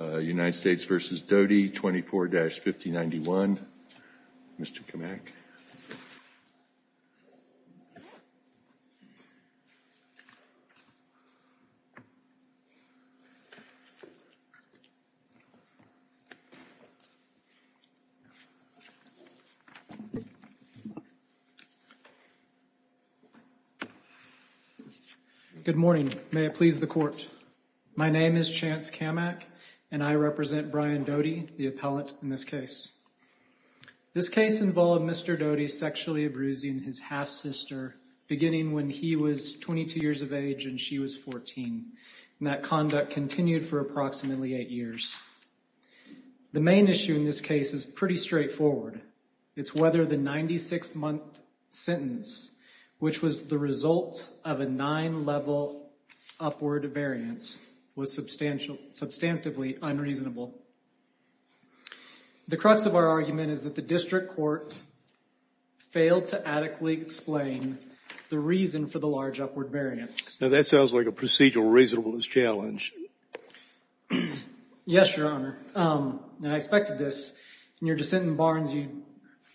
24-5091. Mr. Kamak. Good morning. May it please the court. My name is Chance Kamak and I represent Brian Kamak. Mr. Doty is sexually abusing his half-sister beginning when he was 22 years of age and she was 14. And that conduct continued for approximately eight years. The main issue in this case is pretty straightforward. It's whether the 96-month sentence, which was the result of a nine-level upward variance, was substantially unreasonable. The crux of our argument is that the district court failed to adequately explain the reason for the large upward variance. Now that sounds like a procedural reasonableness challenge. Yes, Your Honor. And I expected this. In your dissent in Barnes, you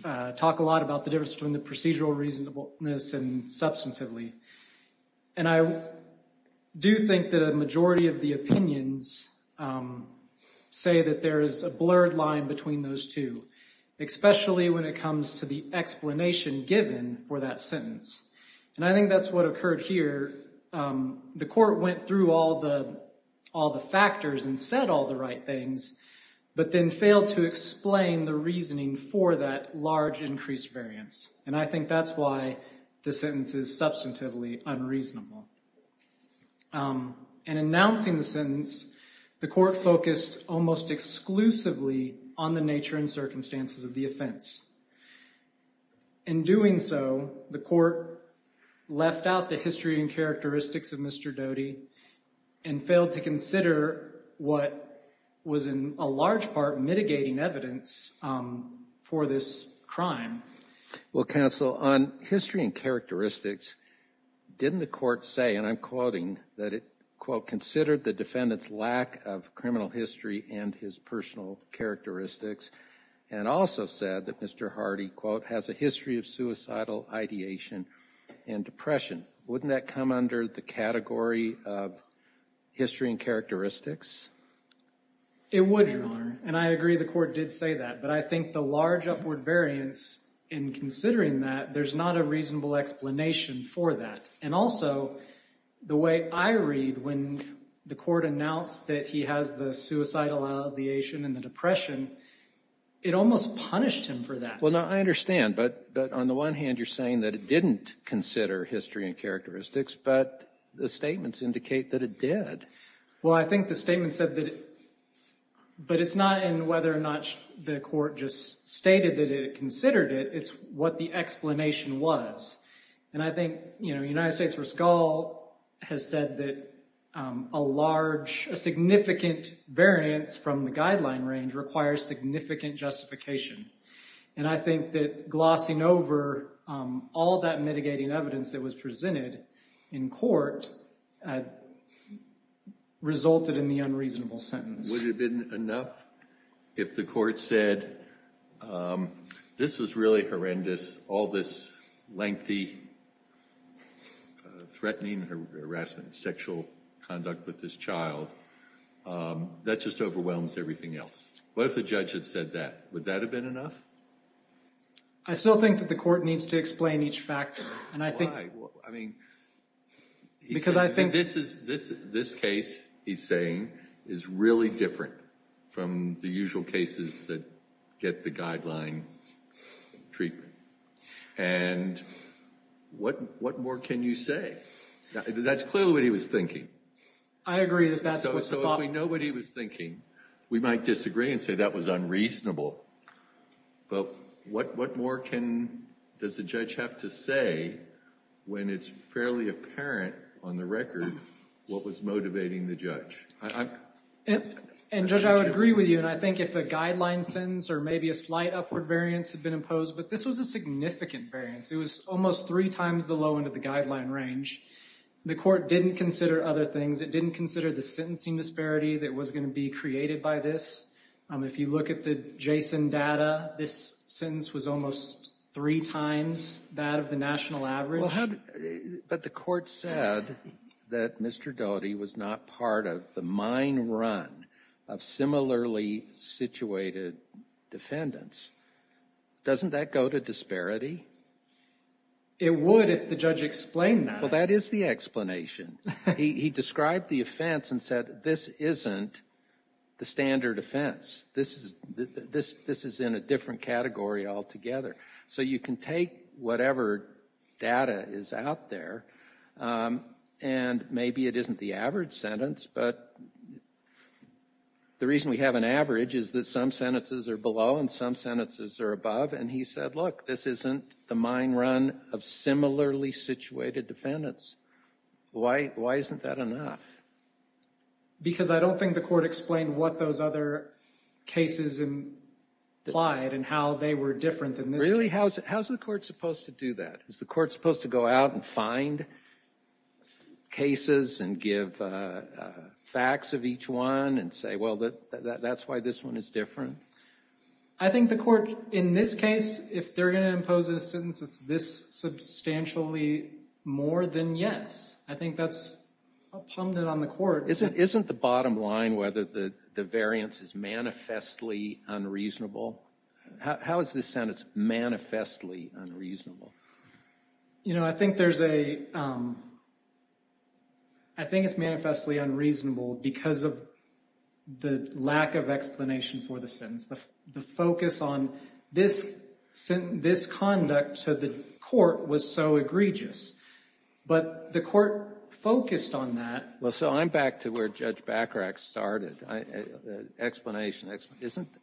talk a lot about the difference between the procedural reasonableness and substantively. And I do think that a majority of the opinions say that there is a blurred line between those two, especially when it comes to the explanation given for that sentence. And I think that's what occurred here. The court went through all the factors and said all the right things, but then failed to explain the reasoning for that large increased variance. And I think that's why the sentence is substantively unreasonable. In announcing the sentence, the court focused almost exclusively on the nature and circumstances of the offense. In doing so, the court left out the history and characteristics of Mr. Doty and failed to consider what was in a large part mitigating evidence for this crime. Well, counsel, on history and characteristics, didn't the court say, and I'm quoting, that it, quote, considered the defendant's lack of criminal history and his personal characteristics, and also said that Mr. Hardy, quote, has a history of suicidal ideation and depression. Wouldn't that come under the category of history and characteristics? It would, Your Honor. And I agree the court did say that. But I think the large upward variance in considering that, there's not a reasonable explanation for that. And also, the way I read when the court announced that he has the suicidal ideation and the depression, it almost punished him for that. Well, now, I understand. But on the one hand, you're saying that it didn't consider history and characteristics, but the statements indicate that it did. Well, I think the statement said that, but it's not in whether or not the court just stated that it considered it. It's what the explanation was. And I think, you know, United States v. Gall has said that a large, a significant variance from the guideline range requires significant justification. And I think that glossing over all that mitigating evidence that was presented in court resulted in the unreasonable sentence. Would it have been enough if the court said, this was really horrendous, all this lengthy threatening harassment, sexual conduct with this child, that just overwhelms everything else? What if the judge had said that? Would that have been enough? I still think that the court needs to explain each factor. Why? Well, I mean, this case, he's saying, is really different from the usual cases that get the guideline treatment. And what more can you say? That's clearly what he was thinking. I agree that that's what's the problem. But what more can, does the judge have to say when it's fairly apparent on the record what was motivating the judge? And Judge, I would agree with you. And I think if a guideline sentence or maybe a slight upward variance had been imposed, but this was a significant variance. It was almost three times the low end of the guideline range. The court didn't consider other things. It didn't consider the sentencing disparity that was going to be created by this. If you look at the JSON data, this sentence was almost three times that of the national average. But the court said that Mr. Doty was not part of the mine run of similarly situated defendants. Doesn't that go to disparity? It would if the judge explained that. Well, that is the explanation. He described the offense and said, this isn't the standard offense. This is in a different category altogether. So you can take whatever data is out there, and maybe it isn't the average sentence. But the reason we have an average is that some sentences are below and some sentences are above. And he said, look, this isn't the mine run of similarly situated defendants. Why isn't that enough? Because I don't think the court explained what those other cases implied and how they were different than this case. Really? How is the court supposed to do that? Is the court supposed to go out and find cases and give facts of each one and say, well, that's why this one is different? I think the court, in this case, if they're going to impose a sentence that's this substantially more than yes, I think that's a pundit on the court. Isn't the bottom line whether the variance is manifestly unreasonable? How is this sentence manifestly unreasonable? You know, I think there's a, I think it's manifestly unreasonable because of the lack of explanation for the sentence. The focus on this conduct to the court was so egregious. But the court focused on that. Well, so I'm back to where Judge Bacharach started. Explanation.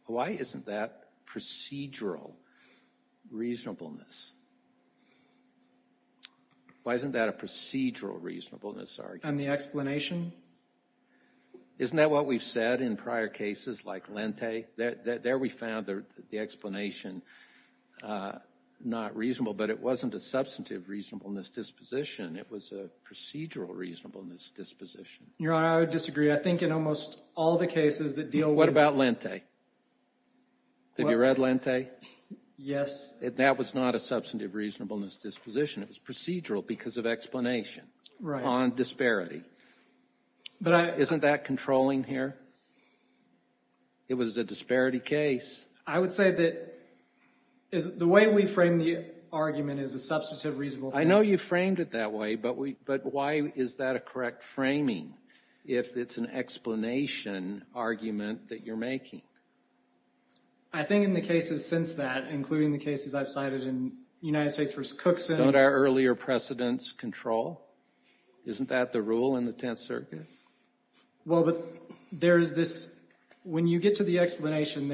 Why isn't that procedural reasonableness? Why isn't that a procedural reasonableness argument? And the explanation? Isn't that what we've said in prior cases like Lente? There we found the explanation not reasonable, but it wasn't a substantive reasonableness disposition. It was a procedural reasonableness disposition. Your Honor, I would disagree. I think in almost all the cases that deal with— What about Lente? Have you read Lente? Yes. That was not a substantive reasonableness disposition. It was procedural because of explanation on disparity. But I— Isn't that controlling here? It was a disparity case. I would say that the way we frame the argument is a substantive reasonableness. I know you framed it that way, but why is that a correct framing if it's an explanation argument that you're making? I think in the cases since that, including the cases I've cited in United States v. Cookson— Isn't that what our earlier precedents control? Isn't that the rule in the Tenth Circuit? Well, but there's this—when you get to the explanation,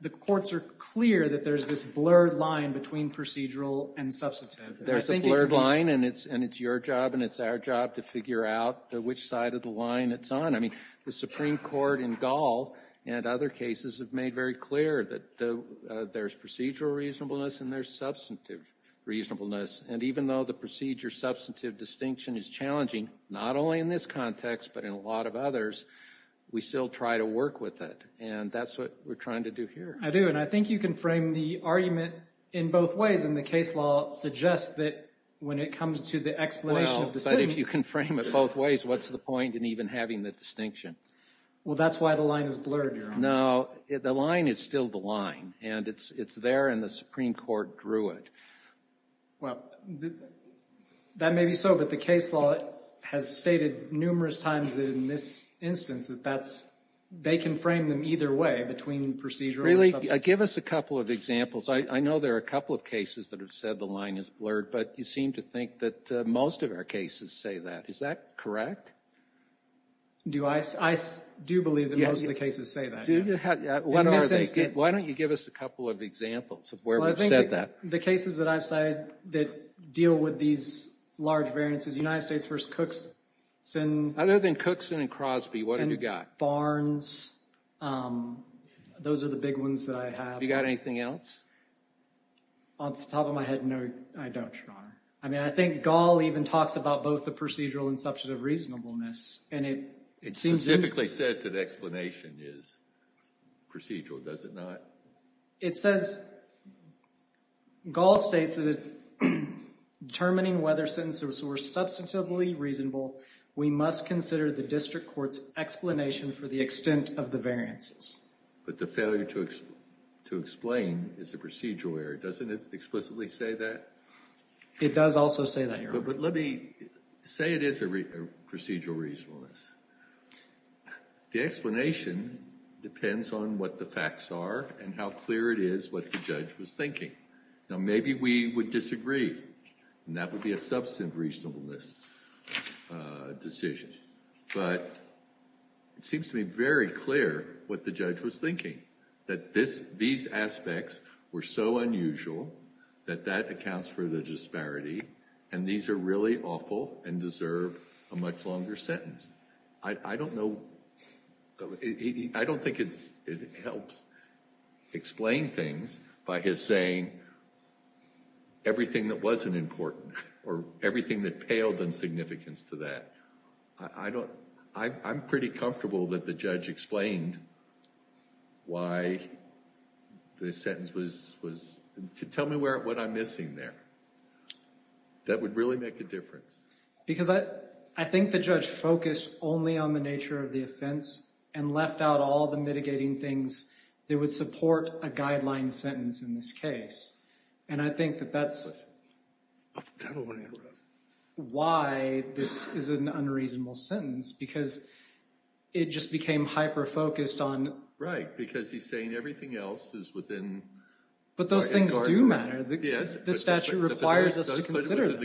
the courts are clear that there's this blurred line between procedural and substantive. There's a blurred line, and it's your job and it's our job to figure out which side of the line it's on. I mean, the Supreme Court in Gall and other cases have made very clear that there's procedural reasonableness and there's substantive reasonableness. And even though the procedure-substantive distinction is challenging, not only in this context but in a lot of others, we still try to work with it. And that's what we're trying to do here. I do, and I think you can frame the argument in both ways, and the case law suggests that when it comes to the explanation of decisions— Well, but if you can frame it both ways, what's the point in even having the distinction? Well that's why the line is blurred, Your Honor. No, the line is still the line, and it's there and the Supreme Court drew it. Well, that may be so, but the case law has stated numerous times in this instance that that's—they can frame them either way, between procedural and substantive. Really? Give us a couple of examples. I know there are a couple of cases that have said the line is blurred, but you seem to think that most of our cases say that. Is that correct? Do I? I do believe that most of the cases say that. In this instance— Why don't you give us a couple of examples of where we've said that? The cases that I've cited that deal with these large variances, United States v. Cookson— Other than Cookson and Crosby, what have you got? Barnes, those are the big ones that I have. Have you got anything else? Off the top of my head, no, I don't, Your Honor. I mean, I think Gall even talks about both the procedural and substantive reasonableness, and it— Specifically says that explanation is procedural, does it not? It says—Gall states that determining whether sentences were substantively reasonable, we must consider the district court's explanation for the extent of the variances. But the failure to explain is a procedural error. Doesn't it explicitly say that? It does also say that, Your Honor. But let me—say it is a procedural reasonableness. The explanation depends on what the facts are and how clear it is what the judge was thinking. Now, maybe we would disagree, and that would be a substantive reasonableness decision. But it seems to be very clear what the judge was thinking, that this—these aspects were so unusual that that accounts for the disparity, and these are really awful and deserve a much longer sentence. I don't know—I don't think it's—it helps explain things by his saying everything that wasn't important or everything that paled in significance to that. I don't—I'm pretty comfortable that the judge explained why the sentence was—tell me what I'm missing there. That would really make a difference. Because I—I think the judge focused only on the nature of the offense and left out all the mitigating things that would support a guideline sentence in this case. And I think that that's why this is an unreasonable sentence, because it just became hyper-focused on— Right, because he's saying everything else is within— But those things do matter. Yes. The statute requires us to consider them.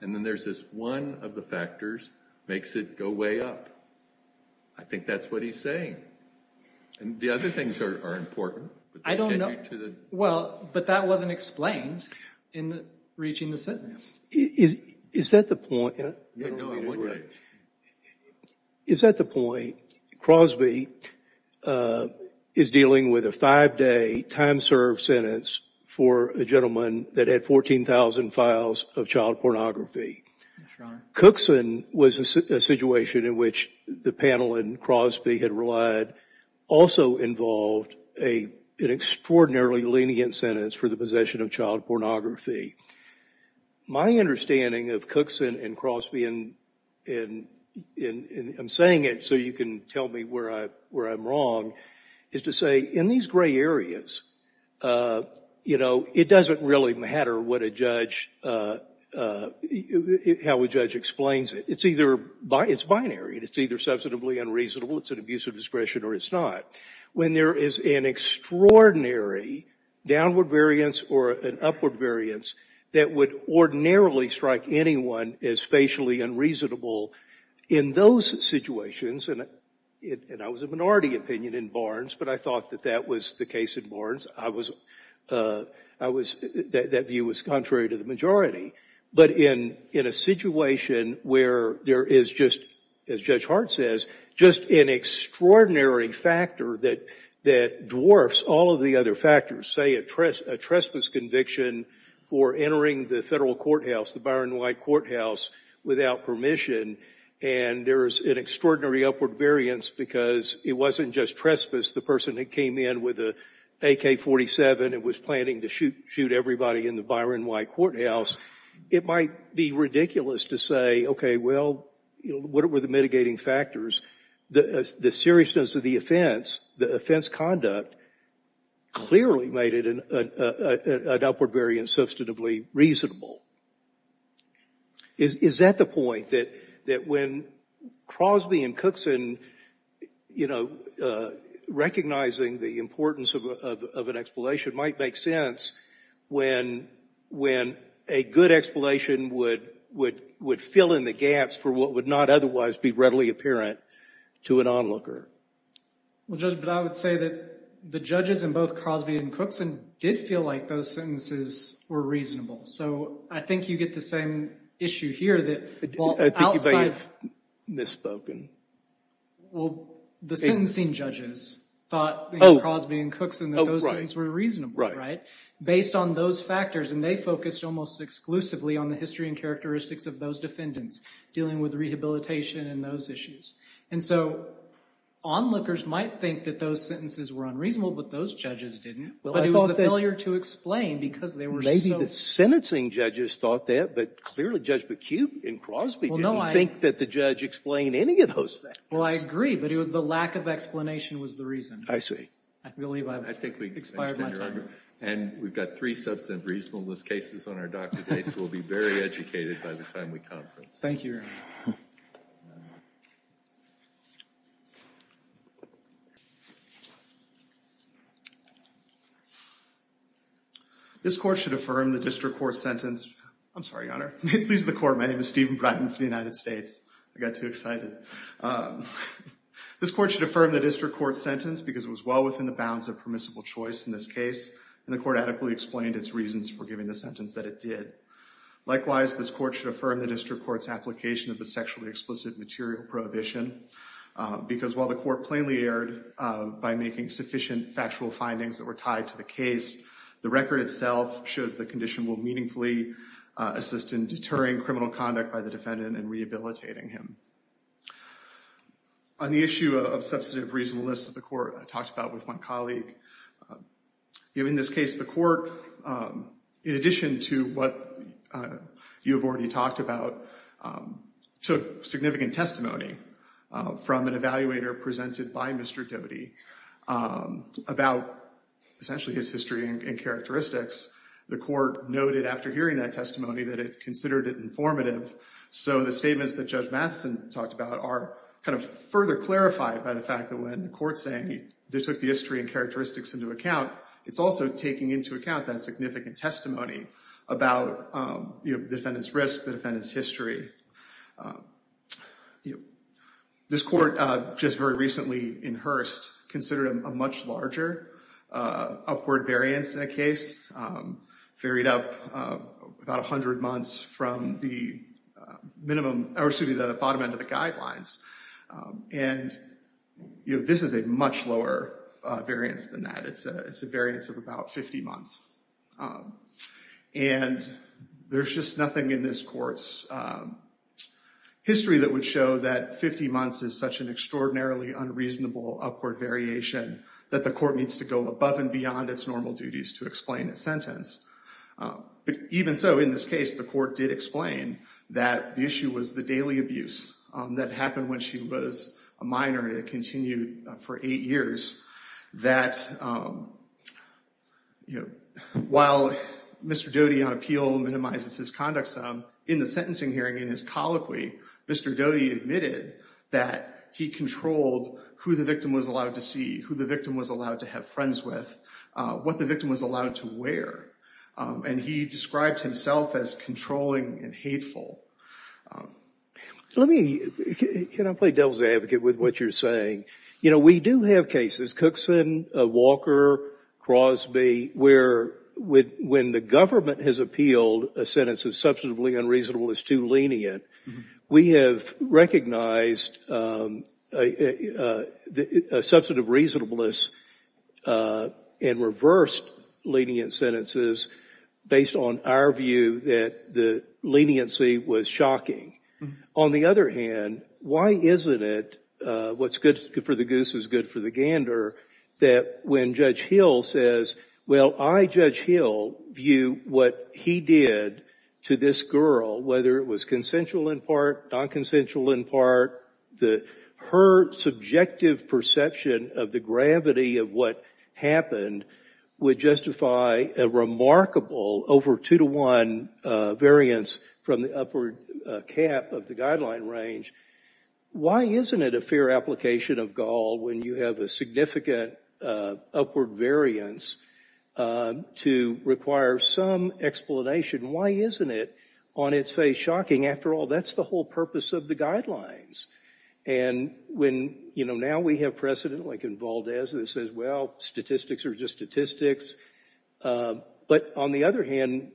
And then there's this one of the factors makes it go way up. I think that's what he's saying. And the other things are important. I don't know. Well, but that wasn't explained in reaching the sentence. Is that the point? Is that the point? Crosby is dealing with a five-day time served sentence for a gentleman that had 14,000 files of child pornography. Yes, Your Honor. Cookson was a situation in which the panel and Crosby had relied, also involved an extraordinarily lenient sentence for the possession of child pornography. My understanding of Cookson and Crosby, and I'm saying it so you can tell me where I'm wrong, is to say in these gray areas, it doesn't really matter how a judge explains it. It's binary. It's either substantively unreasonable, it's an abuse of discretion, or it's not. When there is an extraordinary downward variance or an upward variance that would ordinarily strike anyone as facially unreasonable in those situations— and I was a minority opinion in Barnes, but I thought that that was the case in Barnes. That view was contrary to the majority. But in a situation where there is just, as Judge Hart says, just an extraordinary factor that dwarfs all of the other factors, say a trespass conviction for entering the federal courthouse, the Byron White courthouse, without permission, and there's an extraordinary upward variance because it wasn't just trespass, the person that came in with an AK-47 and was planning to shoot everybody in the Byron White courthouse, it might be ridiculous to say, okay, well, what were the mitigating factors? The seriousness of the offense, the offense conduct, clearly made it an upward variance substantively reasonable. Is that the point, that when Crosby and Cookson, you know, recognizing the importance of an explanation might make sense when a good explanation would fill in the gaps for what would not otherwise be readily apparent to an onlooker? Well, Judge, but I would say that the judges in both Crosby and Cookson did feel like those sentences were reasonable. So, I think you get the same issue here that, well, outside— I think you may have misspoken. Well, the sentencing judges thought in Crosby and Cookson that those sentences were reasonable, right? Based on those factors, and they focused almost exclusively on the history and characteristics of those defendants dealing with rehabilitation and those issues. And so, onlookers might think that those sentences were unreasonable, but those judges didn't, but it was a failure to explain because they were so— The sentencing judges thought that, but clearly Judge McCube in Crosby didn't think that the judge explained any of those factors. Well, I agree, but it was the lack of explanation was the reason. I see. I believe I've expired my time. And we've got three substantive reasonableness cases on our dock today, so we'll be very educated by the time we conference. Thank you, Your Honor. This court should affirm the district court's sentence—I'm sorry, Your Honor, please the court. My name is Stephen Brighton for the United States. I got too excited. This court should affirm the district court's sentence because it was well within the bounds of permissible choice in this case, and the court adequately explained its reasons for giving the sentence that it did. Likewise, this court should affirm the district court's application of the Supreme Court's material prohibition because while the court plainly erred by making sufficient factual findings that were tied to the case, the record itself shows the condition will meaningfully assist in deterring criminal conduct by the defendant and rehabilitating him. On the issue of substantive reasonableness that the court talked about with my colleague, in this case, the court, in addition to what you have already talked about, took significant testimony from an evaluator presented by Mr. Doty about essentially his history and characteristics. The court noted after hearing that testimony that it considered it informative, so the statements that Judge Matheson talked about are kind of further clarified by the fact that when the court's saying they took the history and characteristics into account, it's also taking into account that significant testimony about the defendant's risk, the you know, this court just very recently in Hearst considered a much larger upward variance in a case, varied up about 100 months from the minimum, or excuse me, the bottom end of the guidelines, and you know, this is a much lower variance than that. It's a variance of about 50 months, and there's just nothing in this court's history that would show that 50 months is such an extraordinarily unreasonable upward variation that the court needs to go above and beyond its normal duties to explain its sentence. But even so, in this case, the court did explain that the issue was the daily abuse that happened when she was a minor and it continued for eight years that, you know, while Mr. Doty on appeal minimizes his conduct sum, in the sentencing hearing, in his colloquy, Mr. Doty admitted that he controlled who the victim was allowed to see, who the victim was allowed to have friends with, what the victim was allowed to wear, and he described himself as controlling and hateful. Let me, can I play devil's advocate with what you're saying? You know, we do have cases, Cookson, Walker, Crosby, where when the government has appealed a sentence as substantively unreasonable as too lenient, we have recognized a substantive reasonableness and reversed lenient sentences based on our view that the leniency was shocking. On the other hand, why isn't it what's good for the goose is good for the gander that when Judge Hill says, well, I, Judge Hill, view what he did to this girl, whether it was consensual in part, non-consensual in part, her subjective perception of the gravity of what happened would justify a remarkable over two to one variance from the upward cap of the guideline range. Why isn't it a fair application of Gaul when you have a significant upward variance to require some explanation? Why isn't it on its face shocking? After all, that's the whole purpose of the guidelines. And when, you know, now we have precedent like in Valdez that says, well, statistics are just statistics. But on the other hand,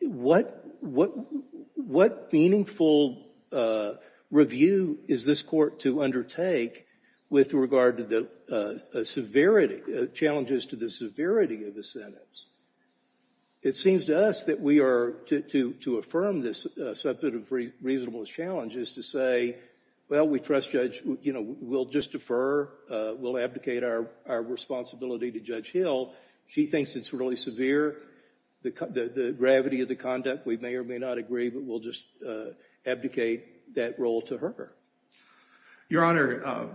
what meaningful review is this court to undertake with regard to the severity, challenges to the severity of the sentence? It seems to us that we are, to affirm this substantive reasonableness challenge is to say, well, we trust Judge, you know, we'll just defer, we'll abdicate our responsibility to Judge Hill. She thinks it's really severe, the gravity of the conduct. We may or may not agree, but we'll just abdicate that role to her. Your Honor,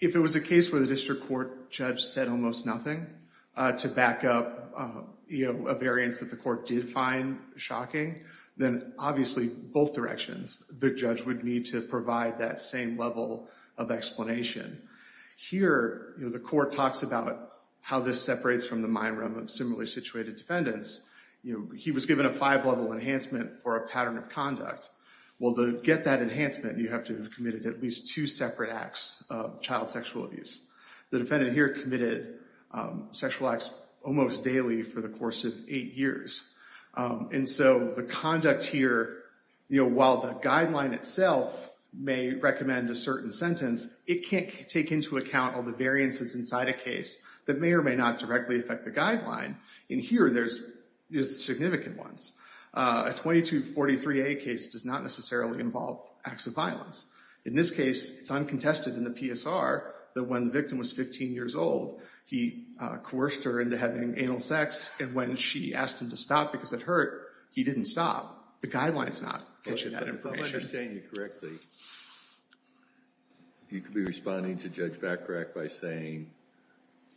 if it was a case where the district court judge said almost nothing to back up, you know, a variance that the court did find shocking, then obviously both directions, the judge would need to provide that same level of explanation. Here, you know, the court talks about how this separates from the mind realm of similarly situated defendants. You know, he was given a five level enhancement for a pattern of conduct. Well, to get that enhancement, you have to have committed at least two separate acts of child sexual abuse. The defendant here committed sexual acts almost daily for the course of eight years. And so the conduct here, you know, while the guideline itself may recommend a certain sentence, it can't take into account all the variances inside a case that may or may not directly affect the guideline. And here, there's significant ones. A 2243A case does not necessarily involve acts of violence. In this case, it's uncontested in the PSR that when the victim was 15 years old, he coerced her into having anal sex. And when she asked him to stop because it hurt, he didn't stop. The guideline's not catching that information. If I understand you correctly, you could be responding to Judge Backrack by saying,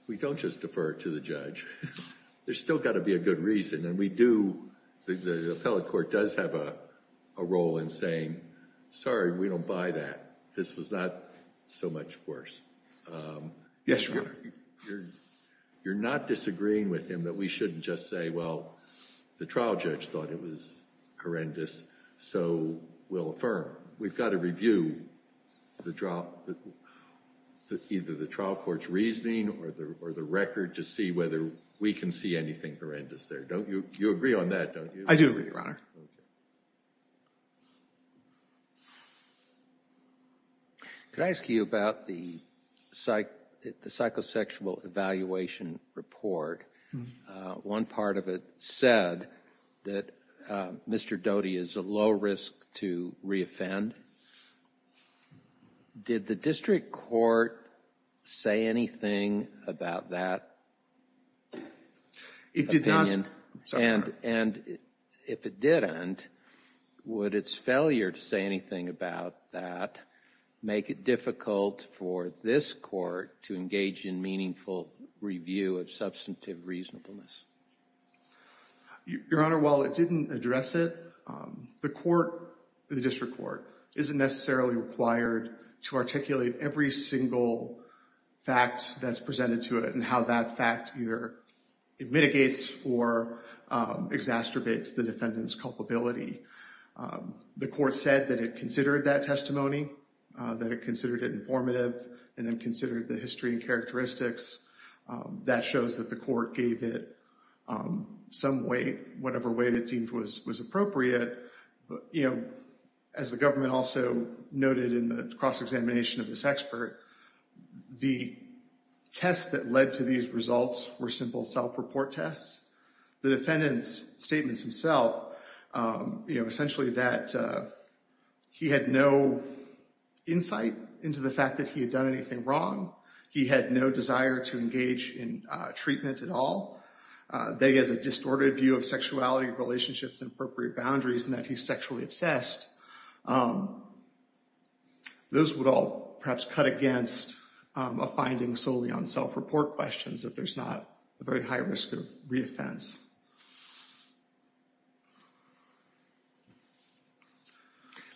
we don't just defer to the judge. There's still got to be a good reason. And we do, the appellate court does have a role in saying, sorry, we don't buy that. This was not so much worse. Yes, Your Honor. You're not disagreeing with him that we shouldn't just say, well, the trial judge thought it was horrendous. So we'll affirm. We've got to review either the trial court's reasoning or the record to see whether we can see anything horrendous there. Don't you? You agree on that, don't you? I do agree, Your Honor. Could I ask you about the psychosexual evaluation report? One part of it said that Mr. Doty is at low risk to re-offend. Did the district court say anything about that? It did not. And if it didn't, would its failure to say anything about that make it difficult for this court to engage in meaningful review of substantive reasonableness? Your Honor, while it didn't address it, the court, the district court, isn't necessarily required to articulate every single fact that's presented to it and how that fact either mitigates or exacerbates the defendant's culpability. The court said that it considered that testimony, that it considered it informative, and then considered the history and characteristics. That shows that the court gave it some weight, whatever weight it deemed was appropriate. As the government also noted in the cross-examination of this expert, the tests that led to these results were simple self-report tests. The defendant's statements himself, essentially that he had no insight into the fact that he had done anything wrong. He had no desire to engage in treatment at all. That he has a distorted view of sexuality, relationships, and appropriate boundaries, and that he's sexually obsessed. Those would all perhaps cut against a finding solely on self-report questions, that there's not a very high risk of re-offense.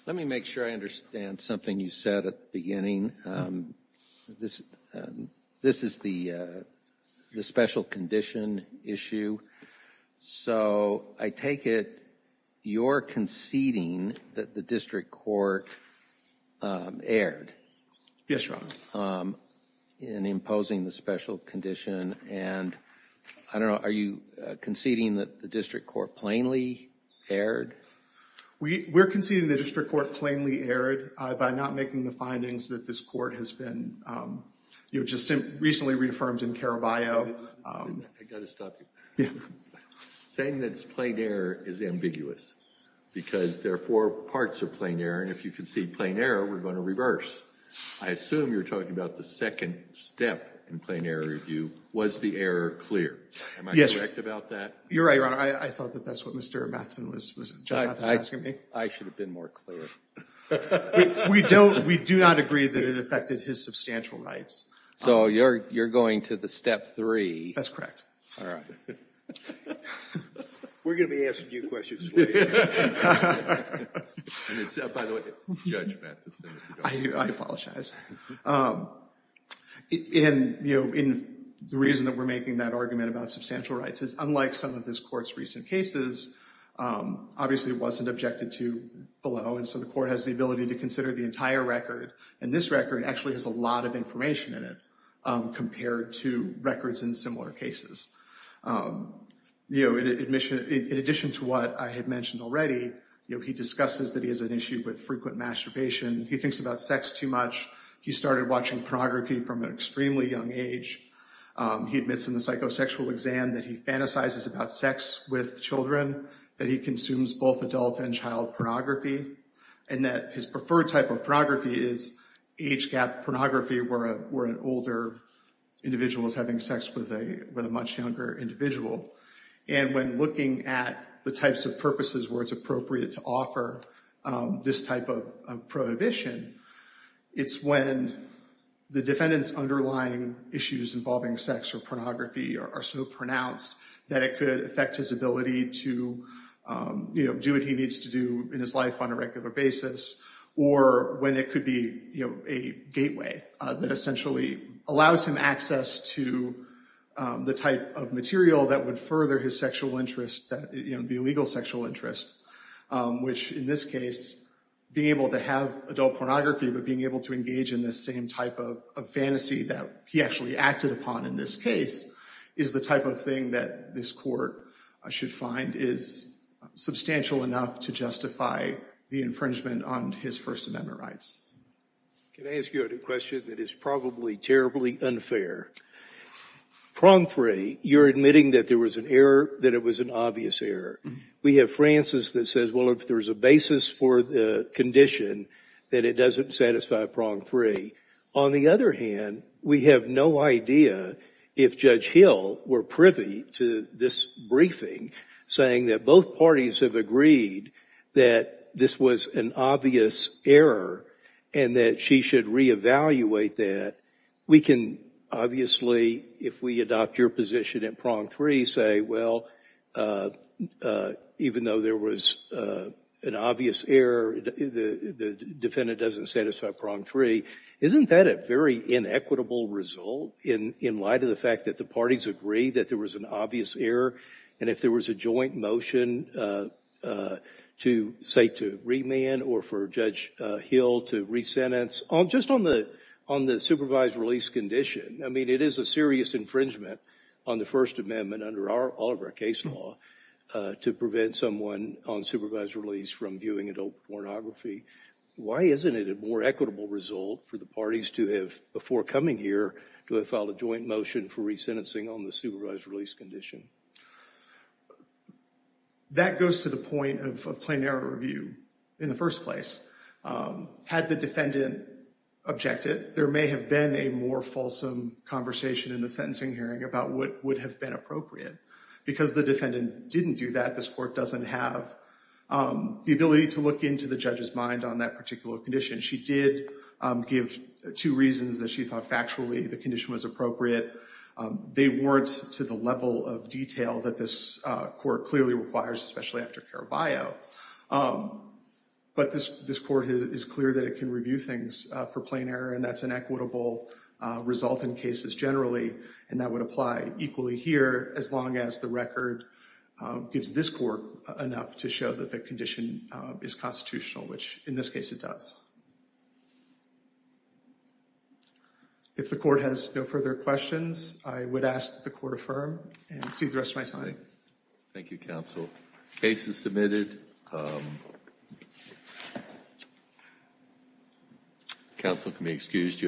Let me make sure I understand something you said at the beginning. This is the special condition issue, so I take it you're conceding that the district court erred? Yes, Your Honor. In imposing the special condition, and I don't know, are you conceding that the district court plainly erred? We're conceding the district court plainly erred by not making the findings that this court has been, you know, just recently reaffirmed in Caraballo. I've got to stop you. Saying that it's plain error is ambiguous, because there are four parts of plain error, and if you concede plain error, we're going to reverse. I assume you're talking about the second step in plain error review. Was the error clear? Am I correct about that? You're right, Your Honor. I thought that that's what Judge Matheson was asking me. I should have been more clear. We do not agree that it affected his substantial rights. So you're going to the step three. That's correct. All right. We're going to be answering your questions later. By the way, it's Judge Matheson. I apologize. And, you know, the reason that we're making that argument about substantial rights is unlike some of this court's recent cases, obviously it wasn't objected to below, and so the court has the ability to consider the entire record, and this record actually has a lot of information in it compared to records in similar cases. You know, in addition to what I had mentioned already, you know, he discusses that he has an issue with frequent masturbation. He thinks about sex too much. He started watching pornography from an extremely young age. He admits in the psychosexual exam that he fantasizes about sex with children, that he consumes both adult and child pornography, and that his preferred type of pornography is age-gap pornography where an older individual is having sex with a much younger individual. And when looking at the types of purposes where it's appropriate to offer this type of prohibition, it's when the defendant's underlying issues involving sex or pornography are so pronounced that it could affect his ability to, you know, do what he needs to do in his life on a regular basis, or when it could be, you know, a gateway that essentially allows him access to the type of material that would further his sexual interest, you know, the illegal sexual interest, which in this case, being able to have adult pornography, but being able to engage in this same type of fantasy that he actually acted upon in this case is the type of thing that this court should find is substantial enough to justify the infringement on his First Amendment rights. Can I ask you a question that is probably terribly unfair? Prongfree, you're admitting that there was an error, that it was an obvious error. We have Francis that says, well, if there's a basis for the condition, that it doesn't satisfy Prongfree. On the other hand, we have no idea if Judge Hill were privy to this briefing saying that both parties have agreed that this was an obvious error and that she should re-evaluate that. We can obviously, if we adopt your position at Prongfree, say, well, even though there was an obvious error, the defendant doesn't satisfy Prongfree. Isn't that a very inequitable result in light of the fact that the parties agree that there was an obvious error? And if there was a joint motion to, say, to remand or for Judge Hill to re-sentence? Just on the supervised release condition, I mean, it is a serious infringement on the First Amendment under all of our case law to prevent someone on supervised release from viewing adult pornography. Why isn't it a more equitable result for the parties to have, before coming here, to have filed a joint motion for re-sentencing on the supervised release condition? That goes to the point of plain error review in the first place. Had the defendant objected, there may have been a more fulsome conversation in the sentencing hearing about what would have been appropriate. Because the defendant didn't do that, this court doesn't have the ability to look into the judge's mind on that particular condition. She did give two reasons that she thought, factually, the condition was appropriate. They weren't to the level of detail that this court clearly requires, especially after Caraballo. But this court is clear that it can review things for plain error, and that's an equitable result in cases generally. And that would apply equally here, as long as the record gives this court enough to show that the condition is constitutional, which, in this case, it does. If the court has no further questions, I would ask that the court affirm, and exceed the rest of my time. Thank you, counsel. Case is submitted. Counsel can be excused.